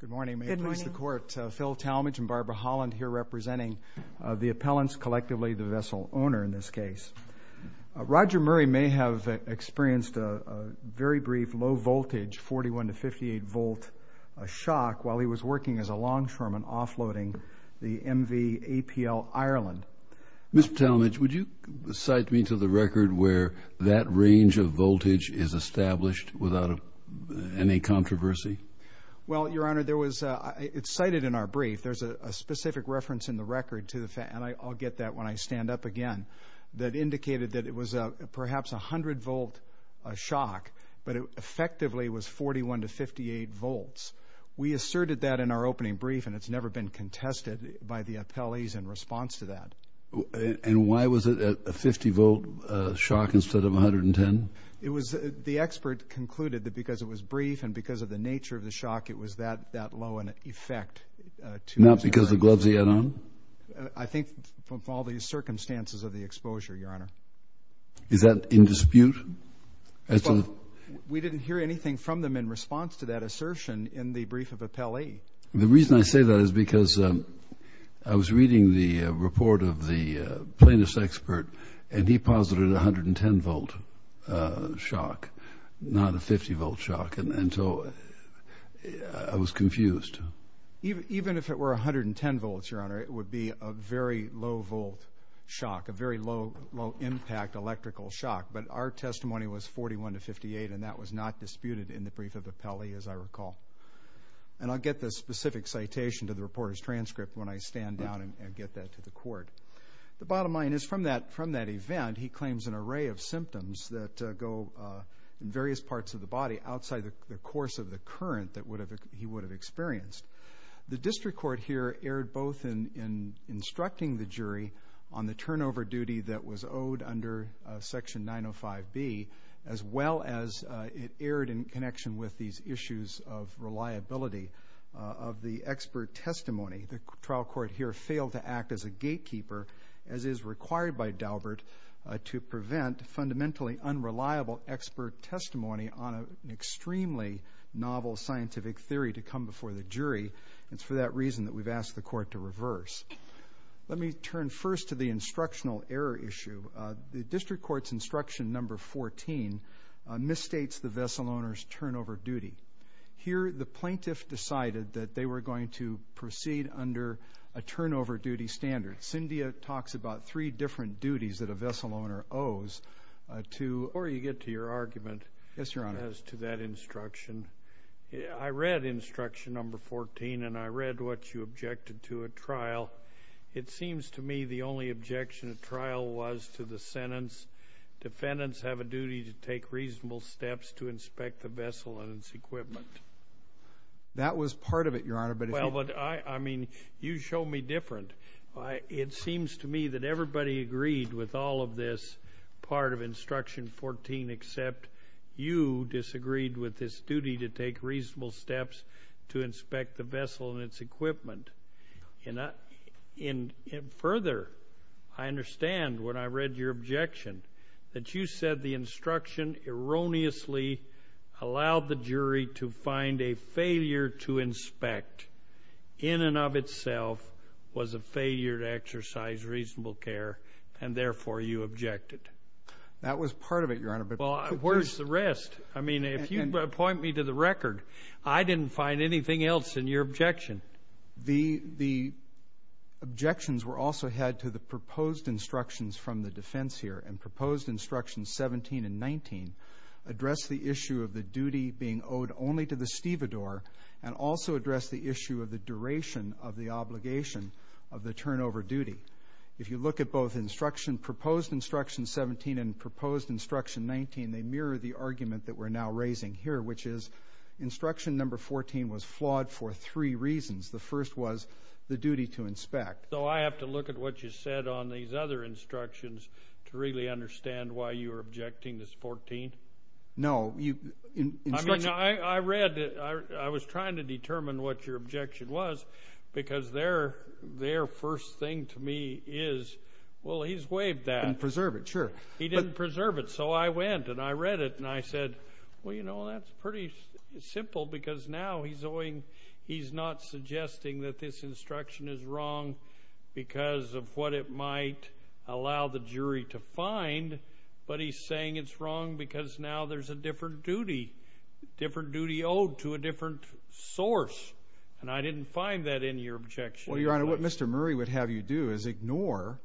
Good morning. May it please the Court, Phil Talmadge and Barbara Holland here representing the appellants, collectively the vessel owner in this case. Roger Murray may have experienced a very brief low voltage 41 to 58 volt shock while he was working as a longshoreman offloading the MV APL Ireland. Mr. Talmadge, would you cite me to the record where that range of controversy? Well, Your Honor, it's cited in our brief. There's a specific reference in the record, and I'll get that when I stand up again, that indicated that it was perhaps a 100 volt shock, but it effectively was 41 to 58 volts. We asserted that in our opening brief and it's never been contested by the appellees in response to that. And why was it a 50 volt shock instead of 110? The expert concluded that because it was brief and because of the nature of the shock, it was that low in effect. Not because the gloves he had on? I think from all these circumstances of the exposure, Your Honor. Is that in dispute? We didn't hear anything from them in response to that assertion in the brief of appellee. The reason I say that is because I was reading the report of the plaintiff's expert and he posited a 110 volt shock, not a 50 volt shock, and so I was confused. Even if it were a 110 volts, Your Honor, it would be a very low volt shock, a very low impact electrical shock. But our testimony was 41 to 58 and that was not disputed in the brief of appellee, as I recall. And I'll get the specific citation to the reporter's transcript when I stand down and get that to the court. The bottom line is from that event, he claims an array of symptoms that go in various parts of the body outside the course of the current that he would have experienced. The district court here erred both in instructing the jury on the turnover duty that was owed under Section 905B as well as it erred in connection with these issues of reliability of the expert testimony. The trial court here failed to act as a gatekeeper as is required by Daubert to prevent fundamentally unreliable expert testimony on an extremely novel scientific theory to come before the jury. It's for that reason that we've asked the court to reverse. Let me turn first to the instructional error issue. The district court's instruction number 14 misstates the vessel owner's turnover duty. Here the plaintiff decided that they were going to proceed under a turnover duty standard. Cyndia talks about three different duties that a vessel owner owes to or you get to your argument as to that instruction. I read instruction number 14 and I read what you said. The objection of trial was to the sentence, defendants have a duty to take reasonable steps to inspect the vessel and its equipment. That was part of it, Your Honor, but if you Well, but I mean, you show me different. It seems to me that everybody agreed with all of this part of instruction 14 except you disagreed with this duty to take reasonable steps to inspect the vessel and its equipment. Further, I understand when I read your objection that you said the instruction erroneously allowed the jury to find a failure to inspect in and of itself was a failure to exercise reasonable care and therefore you objected. That was part of it, Your Honor, but where's the rest? I mean, if you point me to the record, I didn't find anything else in your objection. The objections were also had to the proposed instructions from the defense here and proposed instructions 17 and 19 address the issue of the duty being owed only to the stevedore and also address the issue of the duration of the obligation of the turnover duty. If you look at both instruction, proposed instruction 17 and proposed instruction 19, they mirror the argument that we're now raising here, which is instruction number 14 was flawed for three reasons. The first was the duty to inspect. So I have to look at what you said on these other instructions to really understand why you were objecting this 14? No. I mean, I read it. I was trying to determine what your objection was because their first thing to me is, well, he's waived that. Preserve it, sure. He didn't preserve it. So I went and I read it and I said, well, you know, that's pretty simple because now he's not suggesting that this instruction is wrong because of what it might allow the jury to find, but he's saying it's wrong because now there's a different duty, different duty owed to a different source. And I didn't find that in your objection. Well, Your Honor, what Mr. Murray would have you do is ignore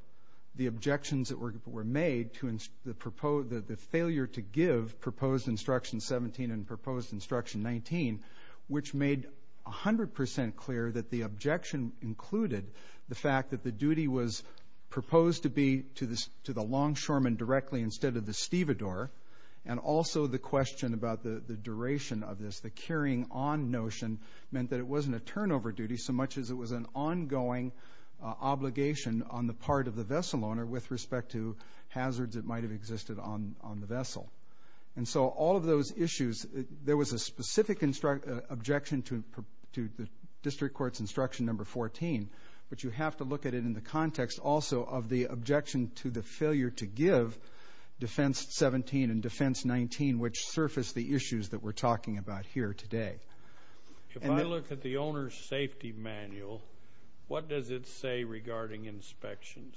the objections that were made to the failure to give proposed instruction 17 and proposed instruction 19, which made 100% clear that the objection included the fact that the duty was proposed to be to the longshoreman directly instead of the stevedore. And also the question about the duration of this, the carrying on of duty, so much as it was an ongoing obligation on the part of the vessel owner with respect to hazards that might have existed on the vessel. And so all of those issues, there was a specific objection to the district court's instruction number 14, but you have to look at it in the context also of the objection to the failure to give defense 17 and defense 19, which surfaced the issues that we're talking about here today. If I look at the owner's safety manual, what does it say regarding inspections?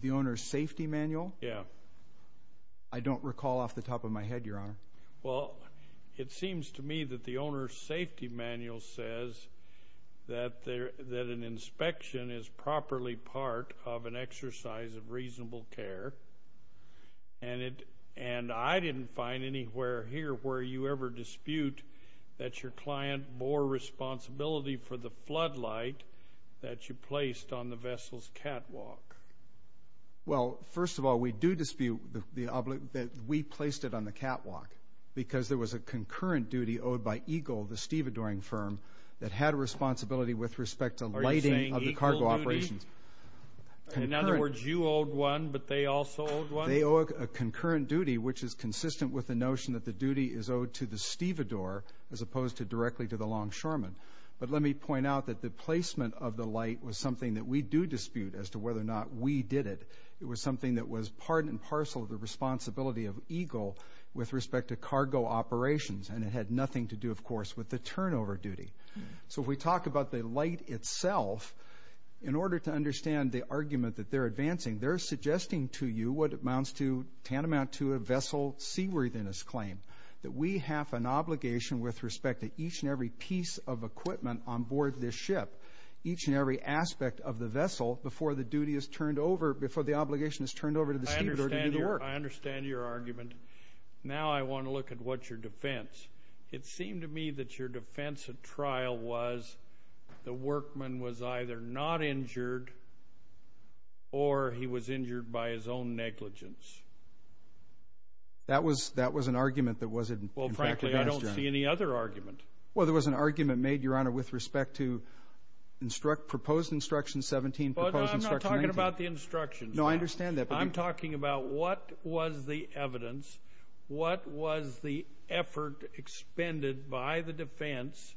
The owner's safety manual? Yeah. I don't recall off the top of my head, Your Honor. Well, it seems to me that the owner's safety manual says that an inspection is properly part of an exercise of reasonable care. And I didn't find anywhere here where you ever dispute that your client bore responsibility for the floodlight that you placed on the vessel's catwalk. Well, first of all, we do dispute that we placed it on the catwalk because there was a concurrent duty owed by EGLE, the stevedoring firm, that had a responsibility with respect to lighting of the cargo operations. In other words, you owed one, but they also owed one? They owe a concurrent duty, which is consistent with the notion that the duty is owed to the stevedore as opposed to directly to the longshoreman. But let me point out that the placement of the light was something that we do dispute as to whether or not we did it. It was something that was part and parcel of the responsibility of EGLE with respect to cargo operations, and it had nothing to do, of course, with the turnover duty. So if we talk about the light itself, in order to understand the argument that they're advancing, they're suggesting to you what amounts to, tantamount to, a vessel seaworthiness claim, that we have an obligation with respect to each and every piece of equipment on board this ship, each and every aspect of the vessel, before the duty is turned over, before the obligation is turned over to the stevedore to do the work. I understand your argument. Now I want to look at what's your defense. It seemed to me that your defense at trial was the workman was either not injured or he was injured by his own negligence. That was an argument that wasn't, in fact, advanced, Your Honor. Well, frankly, I don't see any other argument. Well, there was an argument made, Your Honor, with respect to proposed Instruction 17, proposed Instruction 19. Well, I'm not talking about the instructions. No, I understand that. I'm talking about what was the evidence, what was the effort expended by the defense,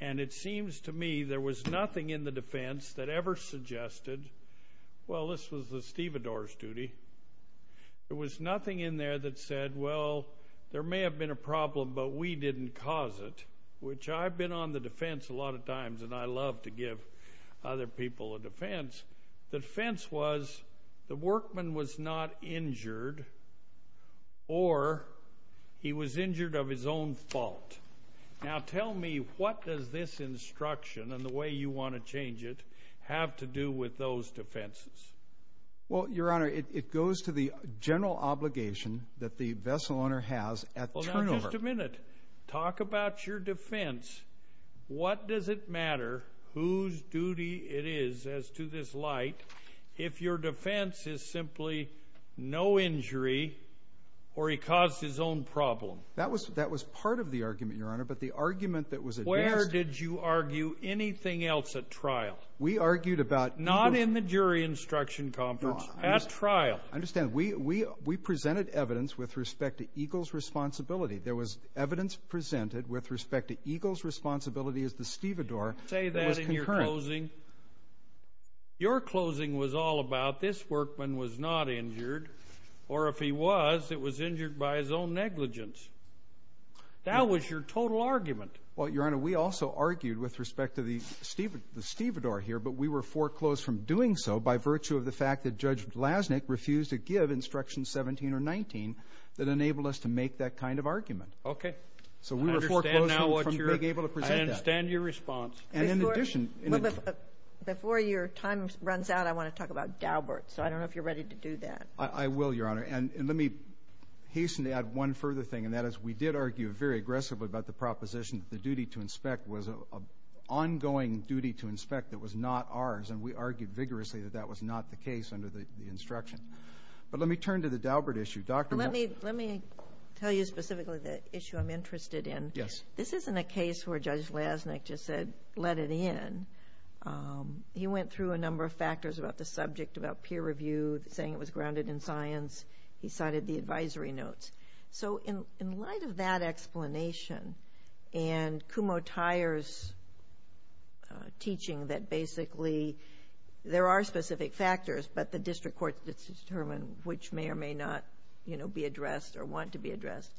and it seems to me there was nothing in the defense that ever suggested, well, this was the stevedore's duty. There was nothing in there that said, well, there may have been a problem, but we didn't cause it, which I've been on the defense a lot of times, and I love to give other people a defense. The defense was the workman was not injured or he was injured of his own fault. Now, tell me, what does this instruction and the way you want to change it have to do with those defenses? Well, Your Honor, it goes to the general obligation that the vessel owner has at the turnover. Just a minute. Talk about your defense. What does it matter whose duty it is as to this light if your defense is simply no injury or he caused his own problem? That was part of the argument, Your Honor, but the argument that was addressed- Where did you argue anything else at trial? We argued about- Not in the jury instruction conference. At trial. Understand, we presented evidence with respect to Eagle's responsibility. There was evidence presented with respect to Eagle's responsibility as the stevedore that was concurrent. Say that in your closing. Your closing was all about this workman was not injured, or if he was, it was injured by his own negligence. That was your total argument. Well, Your Honor, we also argued with respect to the stevedore here, but we were foreclosed from doing so by virtue of the fact that Judge Blasnick refused to give instruction 17 or 19 that enabled us to make that kind of argument. Okay. So we were foreclosed- I understand now what you're- From being able to present that. I understand your response. And in addition- Before your time runs out, I want to talk about Daubert. So I don't know if you're ready to do that. I will, Your Honor. And let me hasten to add one further thing, and that is we did argue very aggressively about the proposition that the duty to inspect was an ongoing duty to And we argued vigorously that that was not the case under the instruction. But let me turn to the Daubert issue. Let me tell you specifically the issue I'm interested in. Yes. This isn't a case where Judge Blasnick just said, let it in. He went through a number of factors about the subject, about peer review, saying it was grounded in science. He cited the advisory notes. So in light of that explanation and Kumho Tyer's teaching that basically there are specific factors, but the district courts determine which may or may not be addressed or want to be addressed,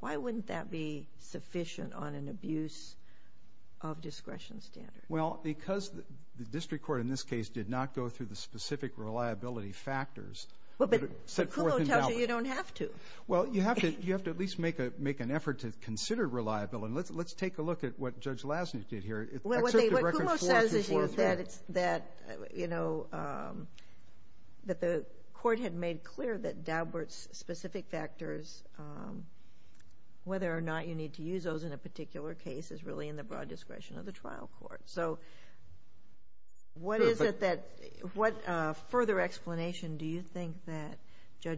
why wouldn't that be sufficient on an abuse of discretion standards? Well, because the district court in this case did not go through the specific reliability factors- But Kumho tells you you don't have to. Well, you have to at least make an effort to consider reliability. And let's take a look at what Judge Blasnick did here. What Kumho says is that the court had made clear that Daubert's specific factors, whether or not you need to use those in a particular case, is really in the broad discretion of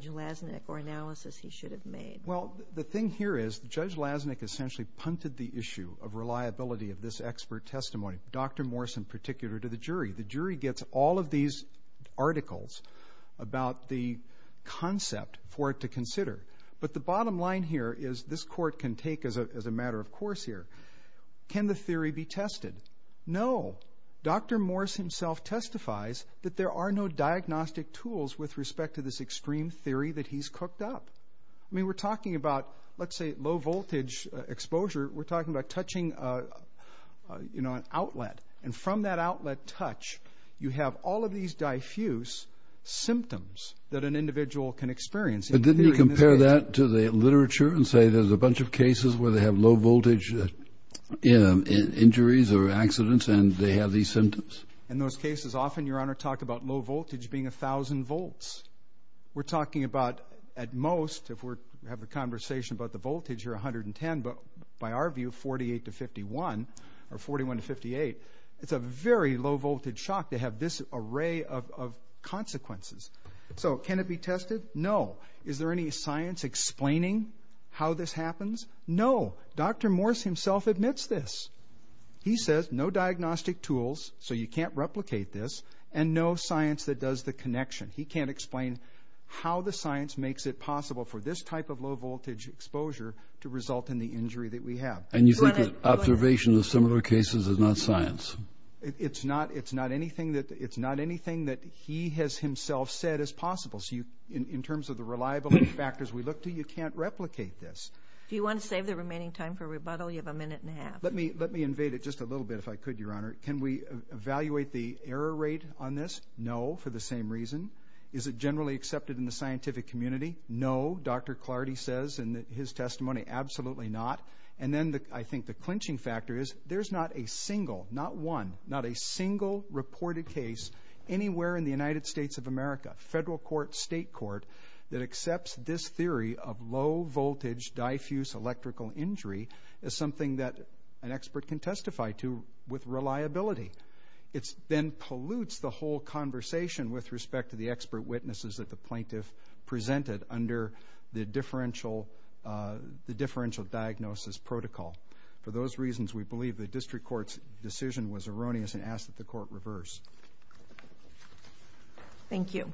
Blasnick or analysis he should have made. Well, the thing here is Judge Blasnick essentially punted the issue of reliability of this expert testimony, Dr. Morse in particular, to the jury. The jury gets all of these articles about the concept for it to consider. But the bottom line here is this court can take as a matter of course here. Can the theory be tested? No. Dr. Morse himself testifies that there are no diagnostic tools with respect to this extreme theory that he's cooked up. I mean, we're talking about, let's say, low voltage exposure. We're talking about touching an outlet. And from that outlet touch, you have all of these diffuse symptoms that an individual can experience. But didn't he compare that to the literature and say there's a bunch of cases where they have low voltage injuries or accidents and they have these symptoms? In those cases, often, Your Honor, talk about low voltage being a thousand volts. We're talking about at most, if we have a conversation about the voltage, you're 110. But by our view, 48 to 51 or 41 to 58, it's a very low voltage shock to have this array of consequences. So can it be tested? No. Is there any science explaining how this happens? No. Dr. Morse himself admits this. He says no diagnostic tools, so you can't replicate this, and no science that does the connection. He can't explain how the science makes it possible for this type of low voltage exposure to result in the injury that we have. And you think that observation of similar cases is not science? It's not anything that he has himself said is possible. In terms of the reliability factors we look to, you can't replicate this. Do you want to save the remaining time for rebuttal? You have a minute and a half. Let me invade it just a little bit, if I could, Your Honor. Can we evaluate the error rate on this? No, for the same reason. Is it generally accepted in the scientific community? No, Dr. Clardy says in his testimony, absolutely not. And then I think the clinching factor is there's not a single, not one, not a single reported case anywhere in the United States of America, federal court, state court, that accepts this theory of low voltage diffuse electrical injury as something that an expert can testify to with reliability. It then pollutes the whole conversation with respect to the expert witnesses that the plaintiff presented under the differential diagnosis protocol. For those reasons, we believe the district court's decision was erroneous and ask that the court reverse. Thank you.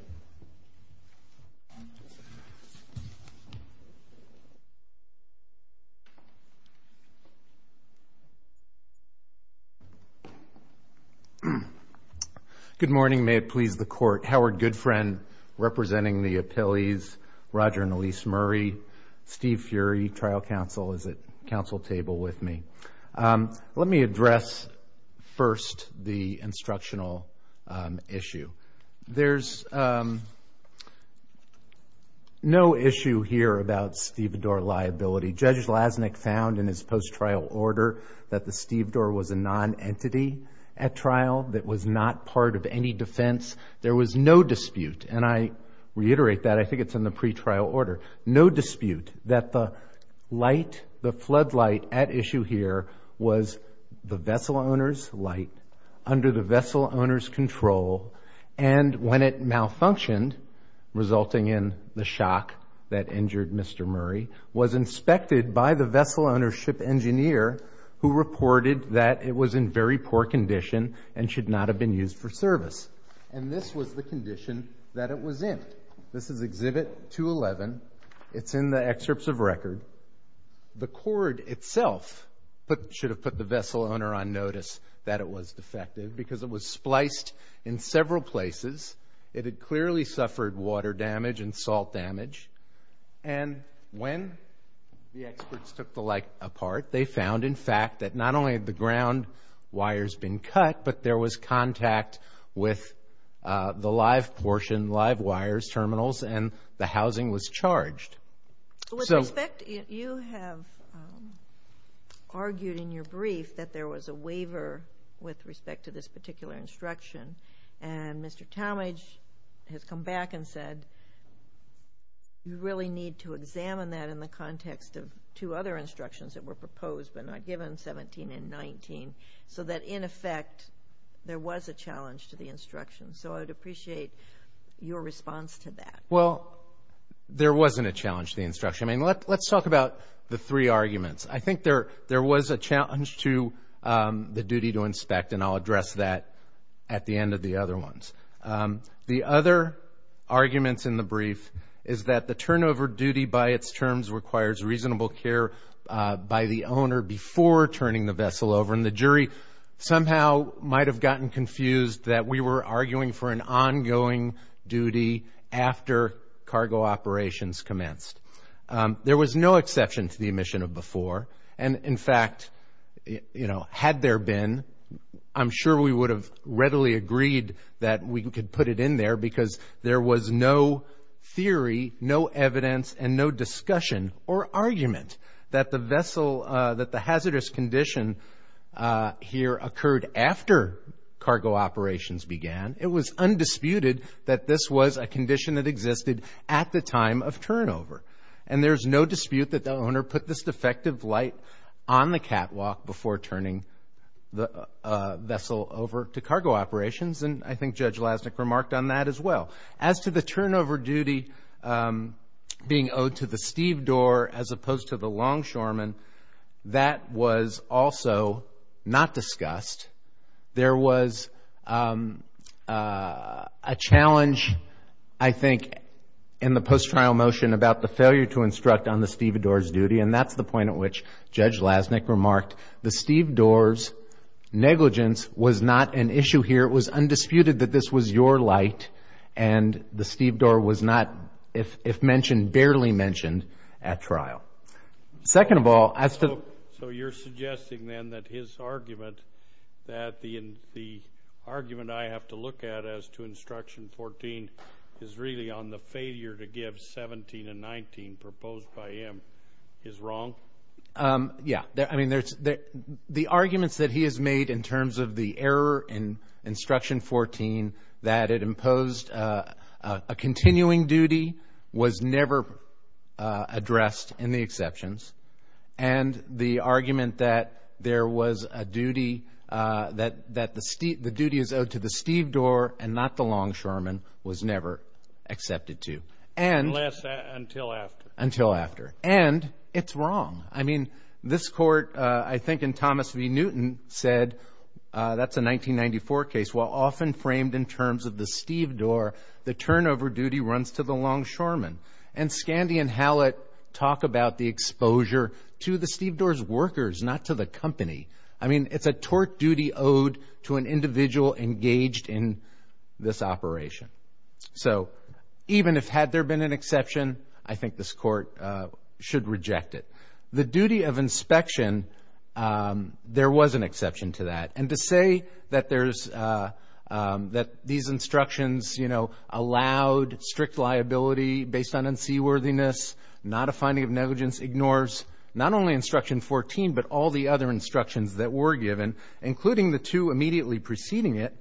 Good morning. May it please the court. Howard Goodfriend representing the appellees, Roger and Elyse Murray, Steve Furey, trial counsel is at counsel table with me. Let me address first the instructional issue. There's no issue here about stevedore liability. Judge Lasnik found in his post-trial order that the stevedore was a non-entity at trial that was not part of any defense. There was no dispute. And I reiterate that. I think it's in the pretrial order. No dispute that the floodlight at issue here was the vessel owner's light under the vessel owner's control. And when it malfunctioned, resulting in the shock that injured Mr. Murray, was inspected by the vessel ownership engineer who reported that it was in very poor condition and should not have been used for service. And this was the condition that it was in. This is exhibit 211. It's in the excerpts of record. The cord itself should have put the vessel owner on notice that it was defective because it was spliced in several places. It had clearly suffered water damage and salt damage. And when the experts took the light apart, they found, in fact, that not only had the ground wires been cut, but there was contact with the live portion, live wires, terminals, and the housing was charged. With respect, you have argued in your brief that there was a waiver with respect to this particular instruction. And Mr. Talmadge has come back and said, you really need to examine that in the context of two other instructions that were proposed but not given, 17 and 19, so that, in effect, there was a challenge to the instruction. So I would appreciate your response to that. Well, there wasn't a challenge to the instruction. I mean, let's talk about the three arguments. I think there was a challenge to the duty to inspect, and I'll address that at the end of the other ones. The other arguments in the brief is that the turnover duty by its theory somehow might have gotten confused that we were arguing for an ongoing duty after cargo operations commenced. There was no exception to the omission of before. And, in fact, you know, had there been, I'm sure we would have readily agreed that we could put it in there because there was no theory, no evidence, and no discussion or argument that the vessel, that the hazardous condition here occurred after cargo operations began. It was undisputed that this was a condition that existed at the time of turnover. And there's no dispute that the owner put this defective light on the catwalk before turning the vessel over to cargo operations. And I think Judge Lasnik remarked on that as well. As to the turnover duty being owed to the stevedore as opposed to the longshoreman, that was also not discussed. There was a challenge, I think, in the post-trial motion about the failure to instruct on the stevedore's duty, and that's the point at which Judge Lasnik remarked the stevedore's negligence was not an issue here. It was undisputed that this was your light, and the stevedore was not, if mentioned, barely mentioned at trial. Second of all, as to... So you're suggesting, then, that his argument, that the argument I have to look at as to Instruction 14 is really on the failure to give 17 and 19 proposed by him is wrong? Yeah. I mean, the arguments that he has made in terms of the error in Instruction 14, that it imposed a continuing duty, was never addressed in the exceptions. And the argument that there was a duty, that the duty is owed to the stevedore and not the longshoreman, was never accepted to. Unless until after. Until after. And it's wrong. I mean, this Court, I think in Thomas v. Newton said, that's a 1994 case, while often framed in terms of the stevedore, the turnover duty runs to the longshoreman. And Scandi and Hallett talk about the exposure to the stevedore's workers, not to the company. I mean, it's a tort duty owed to an individual engaged in this operation. So even if had there been an exception, I think this Court should reject it. The duty of inspection, there was an exception to that. And to say that there's, that these instructions, you know, allowed strict liability based on unseaworthiness, not a finding of negligence, ignores not only Instruction 14, but all the other instructions that were given, including the two immediately preceding it.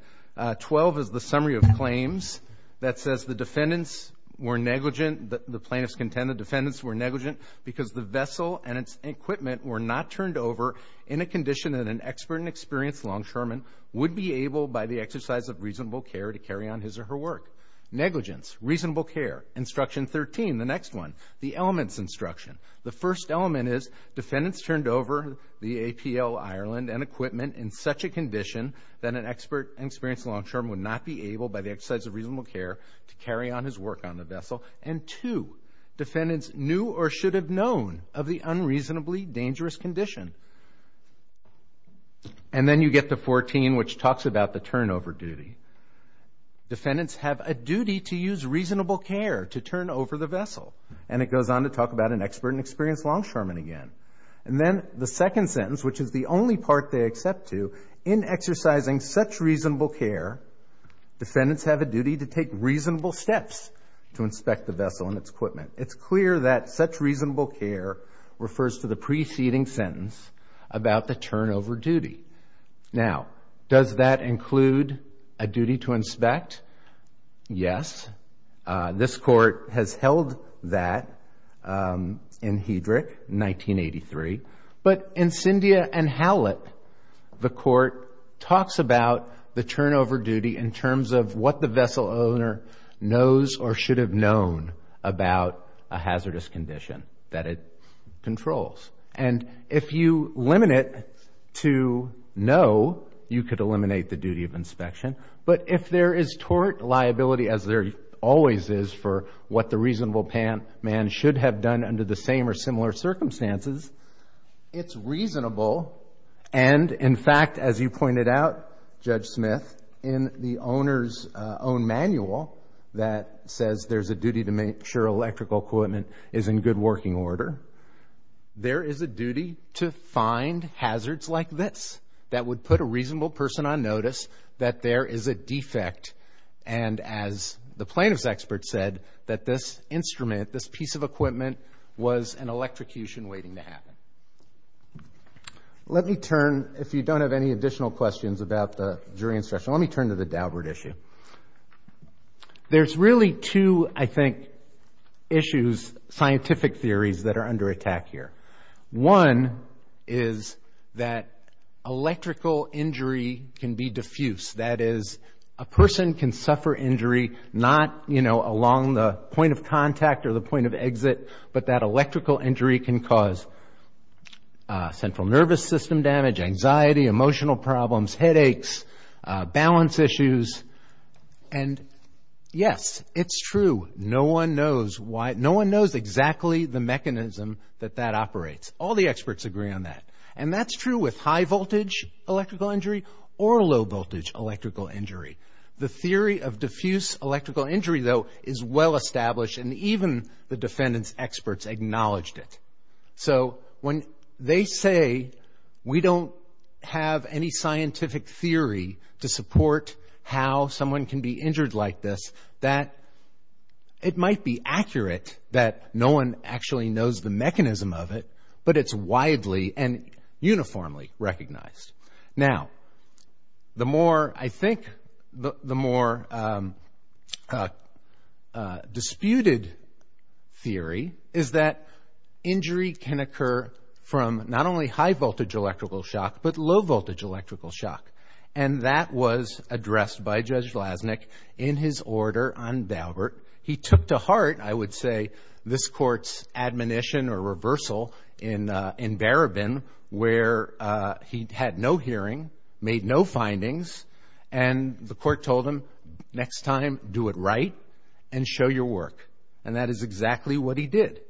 Twelve is the summary of claims that says the defendants were negligent, the plaintiffs contend the defendants were negligent because the vessel and its equipment were not turned over in a condition that an expert and experienced longshoreman would be able, by the exercise of reasonable care, to carry on his or her work. Negligence, reasonable care. Instruction 13, the next one, the elements instruction. The first element is defendants turned over the APL Ireland and equipment in such a condition that an expert and experienced longshoreman would not be able, by the exercise of reasonable care, to carry on his work on the vessel. And two, defendants knew or should have known of the unreasonably dangerous condition. And then you get to 14, which talks about the turnover duty. Defendants have a duty to use reasonable care to turn over the vessel. And it goes on to talk about an expert and experienced longshoreman again. And then the second sentence, which is the only part they accept to, in exercising such reasonable care, defendants have a duty to take reasonable steps to inspect the vessel and its equipment. It's clear that such reasonable care refers to the preceding sentence about the turnover duty. Now, does that include a duty to inspect? Yes. This court has held that in Hedrick, 1983. But in Cyndia and Hallett, the court talks about the turnover duty in terms of what the vessel owner knows or should have known about a hazardous condition that it controls. And if you limit to no, you could eliminate the duty of inspection. But if there is tort liability, as there always is for what the reasonable man should have done under the same or similar circumstances, it's reasonable. And in fact, as you pointed out, Judge Smith, in the owner's own manual that says there's a duty to make sure electrical equipment is in good working order, there is a duty to find hazards like this that would put a reasonable person on notice that there is a defect. And as the plaintiff's expert said, that this instrument, this piece of equipment was an electrocution waiting to happen. Let me turn, if you don't have any additional questions about the jury instruction, let me turn to the Daubert issue. There's really two, I think, issues, scientific theories that are under attack here. One is that electrical injury can be diffuse. That is, a person can suffer injury not, you know, along the point of contact or the point of exit, but that electrical injury can cause central nervous system damage, anxiety, emotional problems, headaches, balance issues. And yes, it's true. No one knows why, no one knows exactly the mechanism that that operates. All the experts agree on that. And that's true with high-voltage electrical injury or low-voltage electrical injury. The theory of diffuse electrical injury, though, is well-established, and even the defendant's experts acknowledged it. So when they say we don't have any scientific theory to support how someone can be injured like this, that it might be accurate that no one actually knows the mechanism of it, but it's widely and uniformly recognized. Now, the more, I think, the more disputed theory is that injury can occur from not only high-voltage electrical shock, but low-voltage electrical shock. And that was addressed by Judge Lasnik in his order on Daubert. He took to heart, I would say, this Court's admonition or reversal in Barabin, where he had no hearing, made no findings, and the Court told him, next time, do it right and show your work. And that is exactly what he did.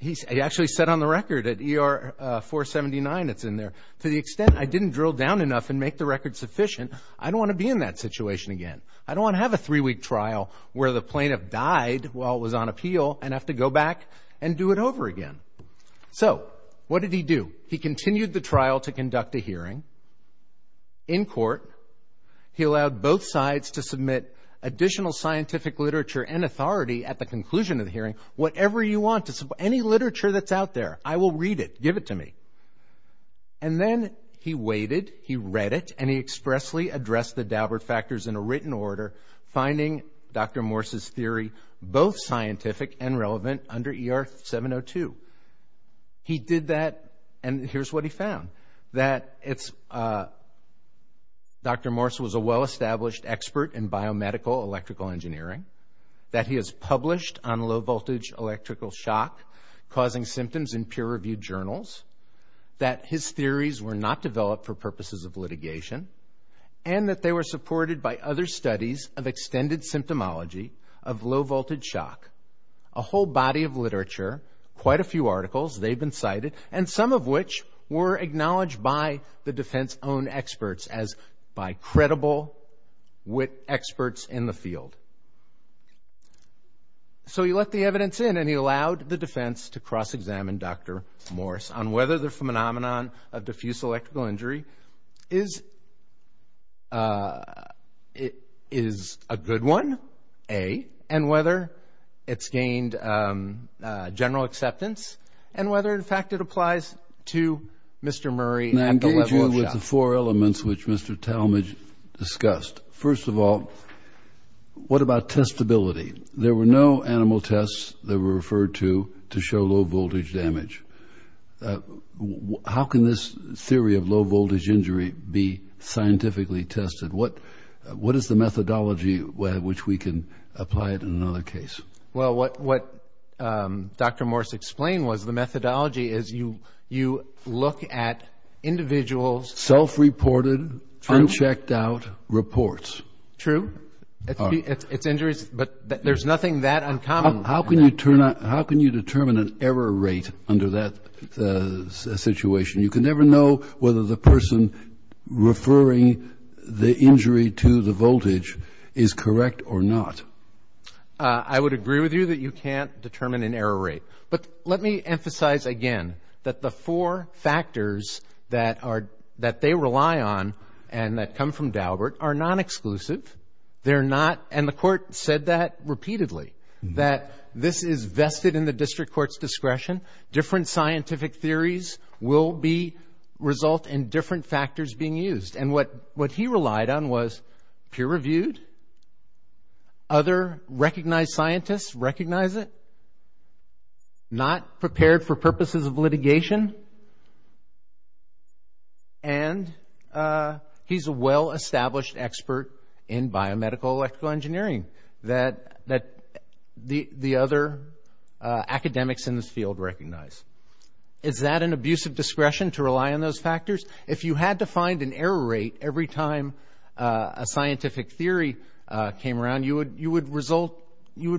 He actually said on the record at ER 479, it's in there, to the extent I didn't drill down enough and make the record sufficient, I don't want to be in that situation again. I don't want to have a three-week trial where the plaintiff died while it was on appeal and have to go back and do it over again. So what did he do? He continued the trial to conduct a hearing in court. He allowed both sides to submit additional scientific literature and authority at the conclusion of the hearing. Whatever you want to, any literature that's out there, I will read it. Give it to me. And then he waited, he read it, and he expressly addressed the Daubert factors in a written order, finding Dr. Morse's theory both scientific and relevant under ER 702. He did that, and here's what he found, that Dr. Morse was a well-established expert in biomedical electrical engineering, that he has published on low-voltage electrical shock, causing symptoms in peer-reviewed journals, that his theories were not developed for purposes of litigation, and that they were supported by other studies of extended symptomology of low-voltage shock. A whole body of literature, quite a few articles, they've been cited, and some of which were acknowledged by the defense-owned experts as by credible experts in the field. So he let the evidence in, and he allowed the defense to cross-examine Dr. Morse on whether the phenomenon of diffuse electrical injury is a good one, A, and whether it's gained general acceptance, and whether, in fact, it applies to Mr. Murray at the level of shock. That's the four elements which Mr. Talmadge discussed. First of all, what about testability? There were no animal tests that were referred to to show low-voltage damage. How can this theory of low-voltage injury be scientifically tested? What is the methodology by which we can apply it in another case? Well, what Dr. Morse explained was the methodology is you look at individuals' symptoms. Self-reported, unchecked-out reports. True. It's injuries, but there's nothing that uncommon. How can you determine an error rate under that situation? You can never know whether the person referring the injury to the voltage is correct or not. I would agree with you that you can't determine an error rate. But let me emphasize again that the four factors that they rely on and that come from Daubert are non-exclusive. The Court said that repeatedly, that this is vested in the District Court's discretion. Different scientific theories will result in different factors being used. What he relied on was peer-reviewed, other recognized scientists recognize it, not prepared for purposes of litigation, and he's a well-established expert in biomedical electrical engineering that the other academics in this field recognize. Is that an abusive discretion to rely on those factors? If you had to find an error rate every time a scientific theory came around, you would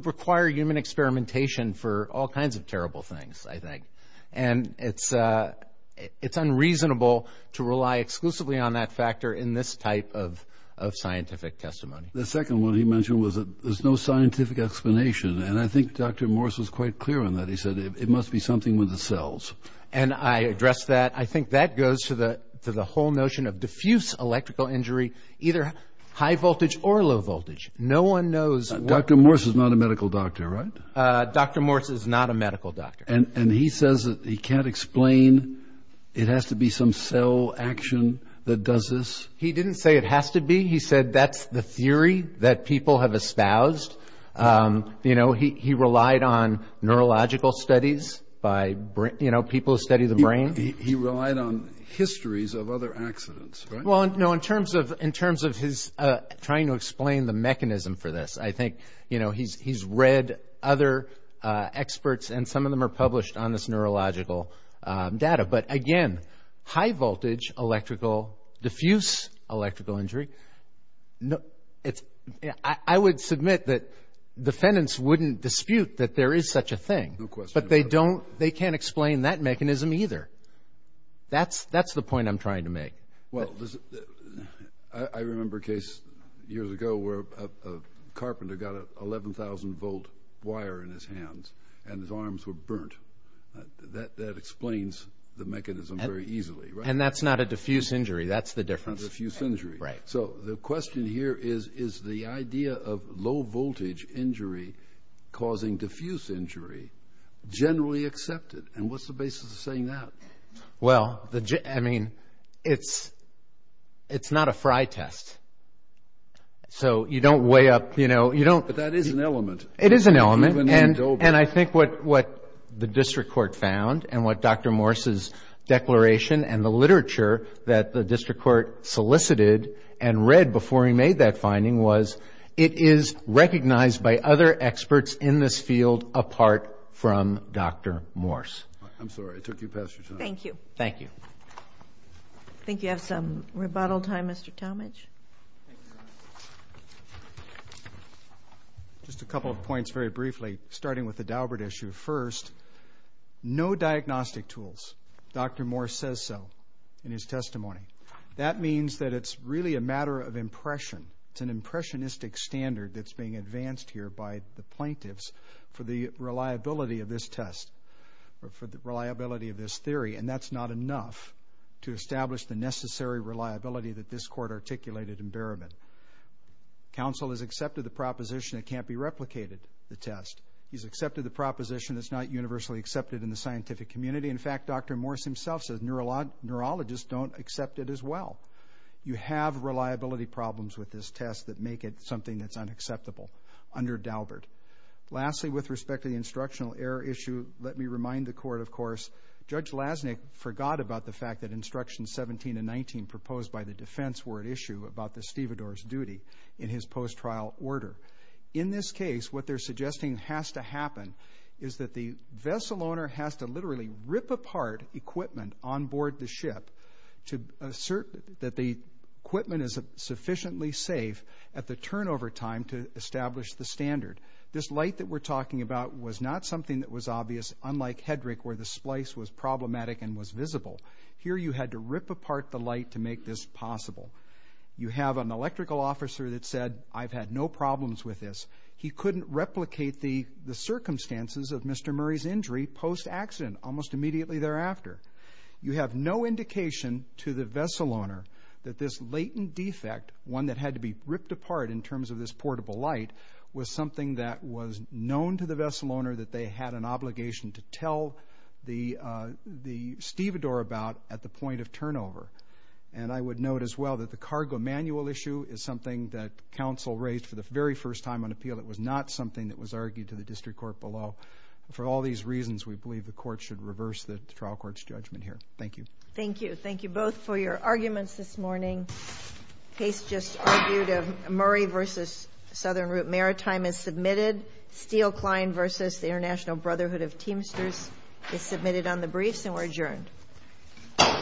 require human experimentation for all kinds of terrible things, I think. And it's unreasonable to rely exclusively on that factor in this type of scientific testimony. The second one he mentioned was that there's no scientific explanation, and I think Dr. Morse was quite clear on that. He said it must be something with the cells. And I addressed that. I think that goes to the whole notion of diffuse electrical injury, either high voltage or low voltage. No one knows what... Dr. Morse is not a medical doctor, right? Dr. Morse is not a medical doctor. And he says that he can't explain it has to be some cell action that does this? He didn't say it has to be. He said that's the theory that people have espoused. You know, he relied on neurological studies by, you know, people who study the brain. He relied on histories of other accidents, right? Well, no, in terms of his trying to explain the mechanism for this, I think, you know, he's read other experts, and some of them are published on this neurological data. But again, high voltage electrical, diffuse electrical injury, I would submit that defendants wouldn't dispute that there is such a thing. No question. But they don't, they can't explain that mechanism either. That's the point I'm trying to make. Well, I remember a case years ago where a carpenter got an 11,000 volt wire in his hands and his arms were burnt. That explains the mechanism very easily, right? And that's not a diffuse injury. That's the difference. Not a diffuse injury. Right. So the question here is, is the idea of low voltage injury causing diffuse injury generally accepted? And what's the basis of saying that? Well, I mean, it's not a fry test. So you don't weigh up, you know, you don't But that is an element. It is an element. And I think what the district court found and what Dr. Morse's declaration and the literature that the district court solicited and read before he made that finding was it is recognized by other experts in this field apart from Dr. Morse. I'm sorry, I took you past your time. Thank you. Thank you. I think you have some rebuttal time, Mr. Talmadge. Just a couple of points very briefly, starting with the Daubert issue. First, no diagnostic tools. Dr. Morse says so in his testimony. That means that it's really a matter of impression. It's an impressionistic standard that's being advanced here by the plaintiffs for the reliability of this test, for the reliability of this theory. And that's not enough to establish the necessary reliability that this court articulated in Berman. Counsel has accepted the proposition it can't be replicated, the test. He's accepted the proposition that's not universally accepted in the scientific community. In fact, Dr. Morse himself says neurologists don't accept it as well. You have reliability problems with this test that make it something that's unacceptable under Daubert. Lastly, with respect to the instructional error issue, let me remind the court, of course, Judge Lasnik forgot about the fact that Instructions 17 and 19 proposed by the defense were at issue about the stevedore's duty in his post-trial order. In this case, what they're suggesting has to happen is that the vessel owner has to literally rip apart equipment on board the ship to assert that the equipment is sufficiently safe at the turnover time to establish the standard. This light that we're talking about was not something that was obvious, unlike Hedrick, where the splice was problematic and was visible. Here you had to rip apart the light to make this possible. You have an electrical officer that said, I've had no problems with this. He couldn't replicate the circumstances of Mr. Murray's injury post-accident, almost immediately thereafter. You have no indication to the vessel owner that this latent defect, one that had to be ripped apart in terms of this portable light, was something that was known to the vessel owner that they had an obligation to tell the stevedore about at the point of turnover. And I would note, as well, that the cargo manual issue is something that counsel raised for the very first time on appeal. It was not something that was argued to the district court below. For all these reasons, we believe the court should reverse the trial court's judgment here. Thank you. Thank you. Thank you both for your arguments this morning. The case just argued of Murray v. Southern Route Maritime is submitted. Steele-Klein v. The International Brotherhood of Teamsters is submitted on the briefs and we're adjourned.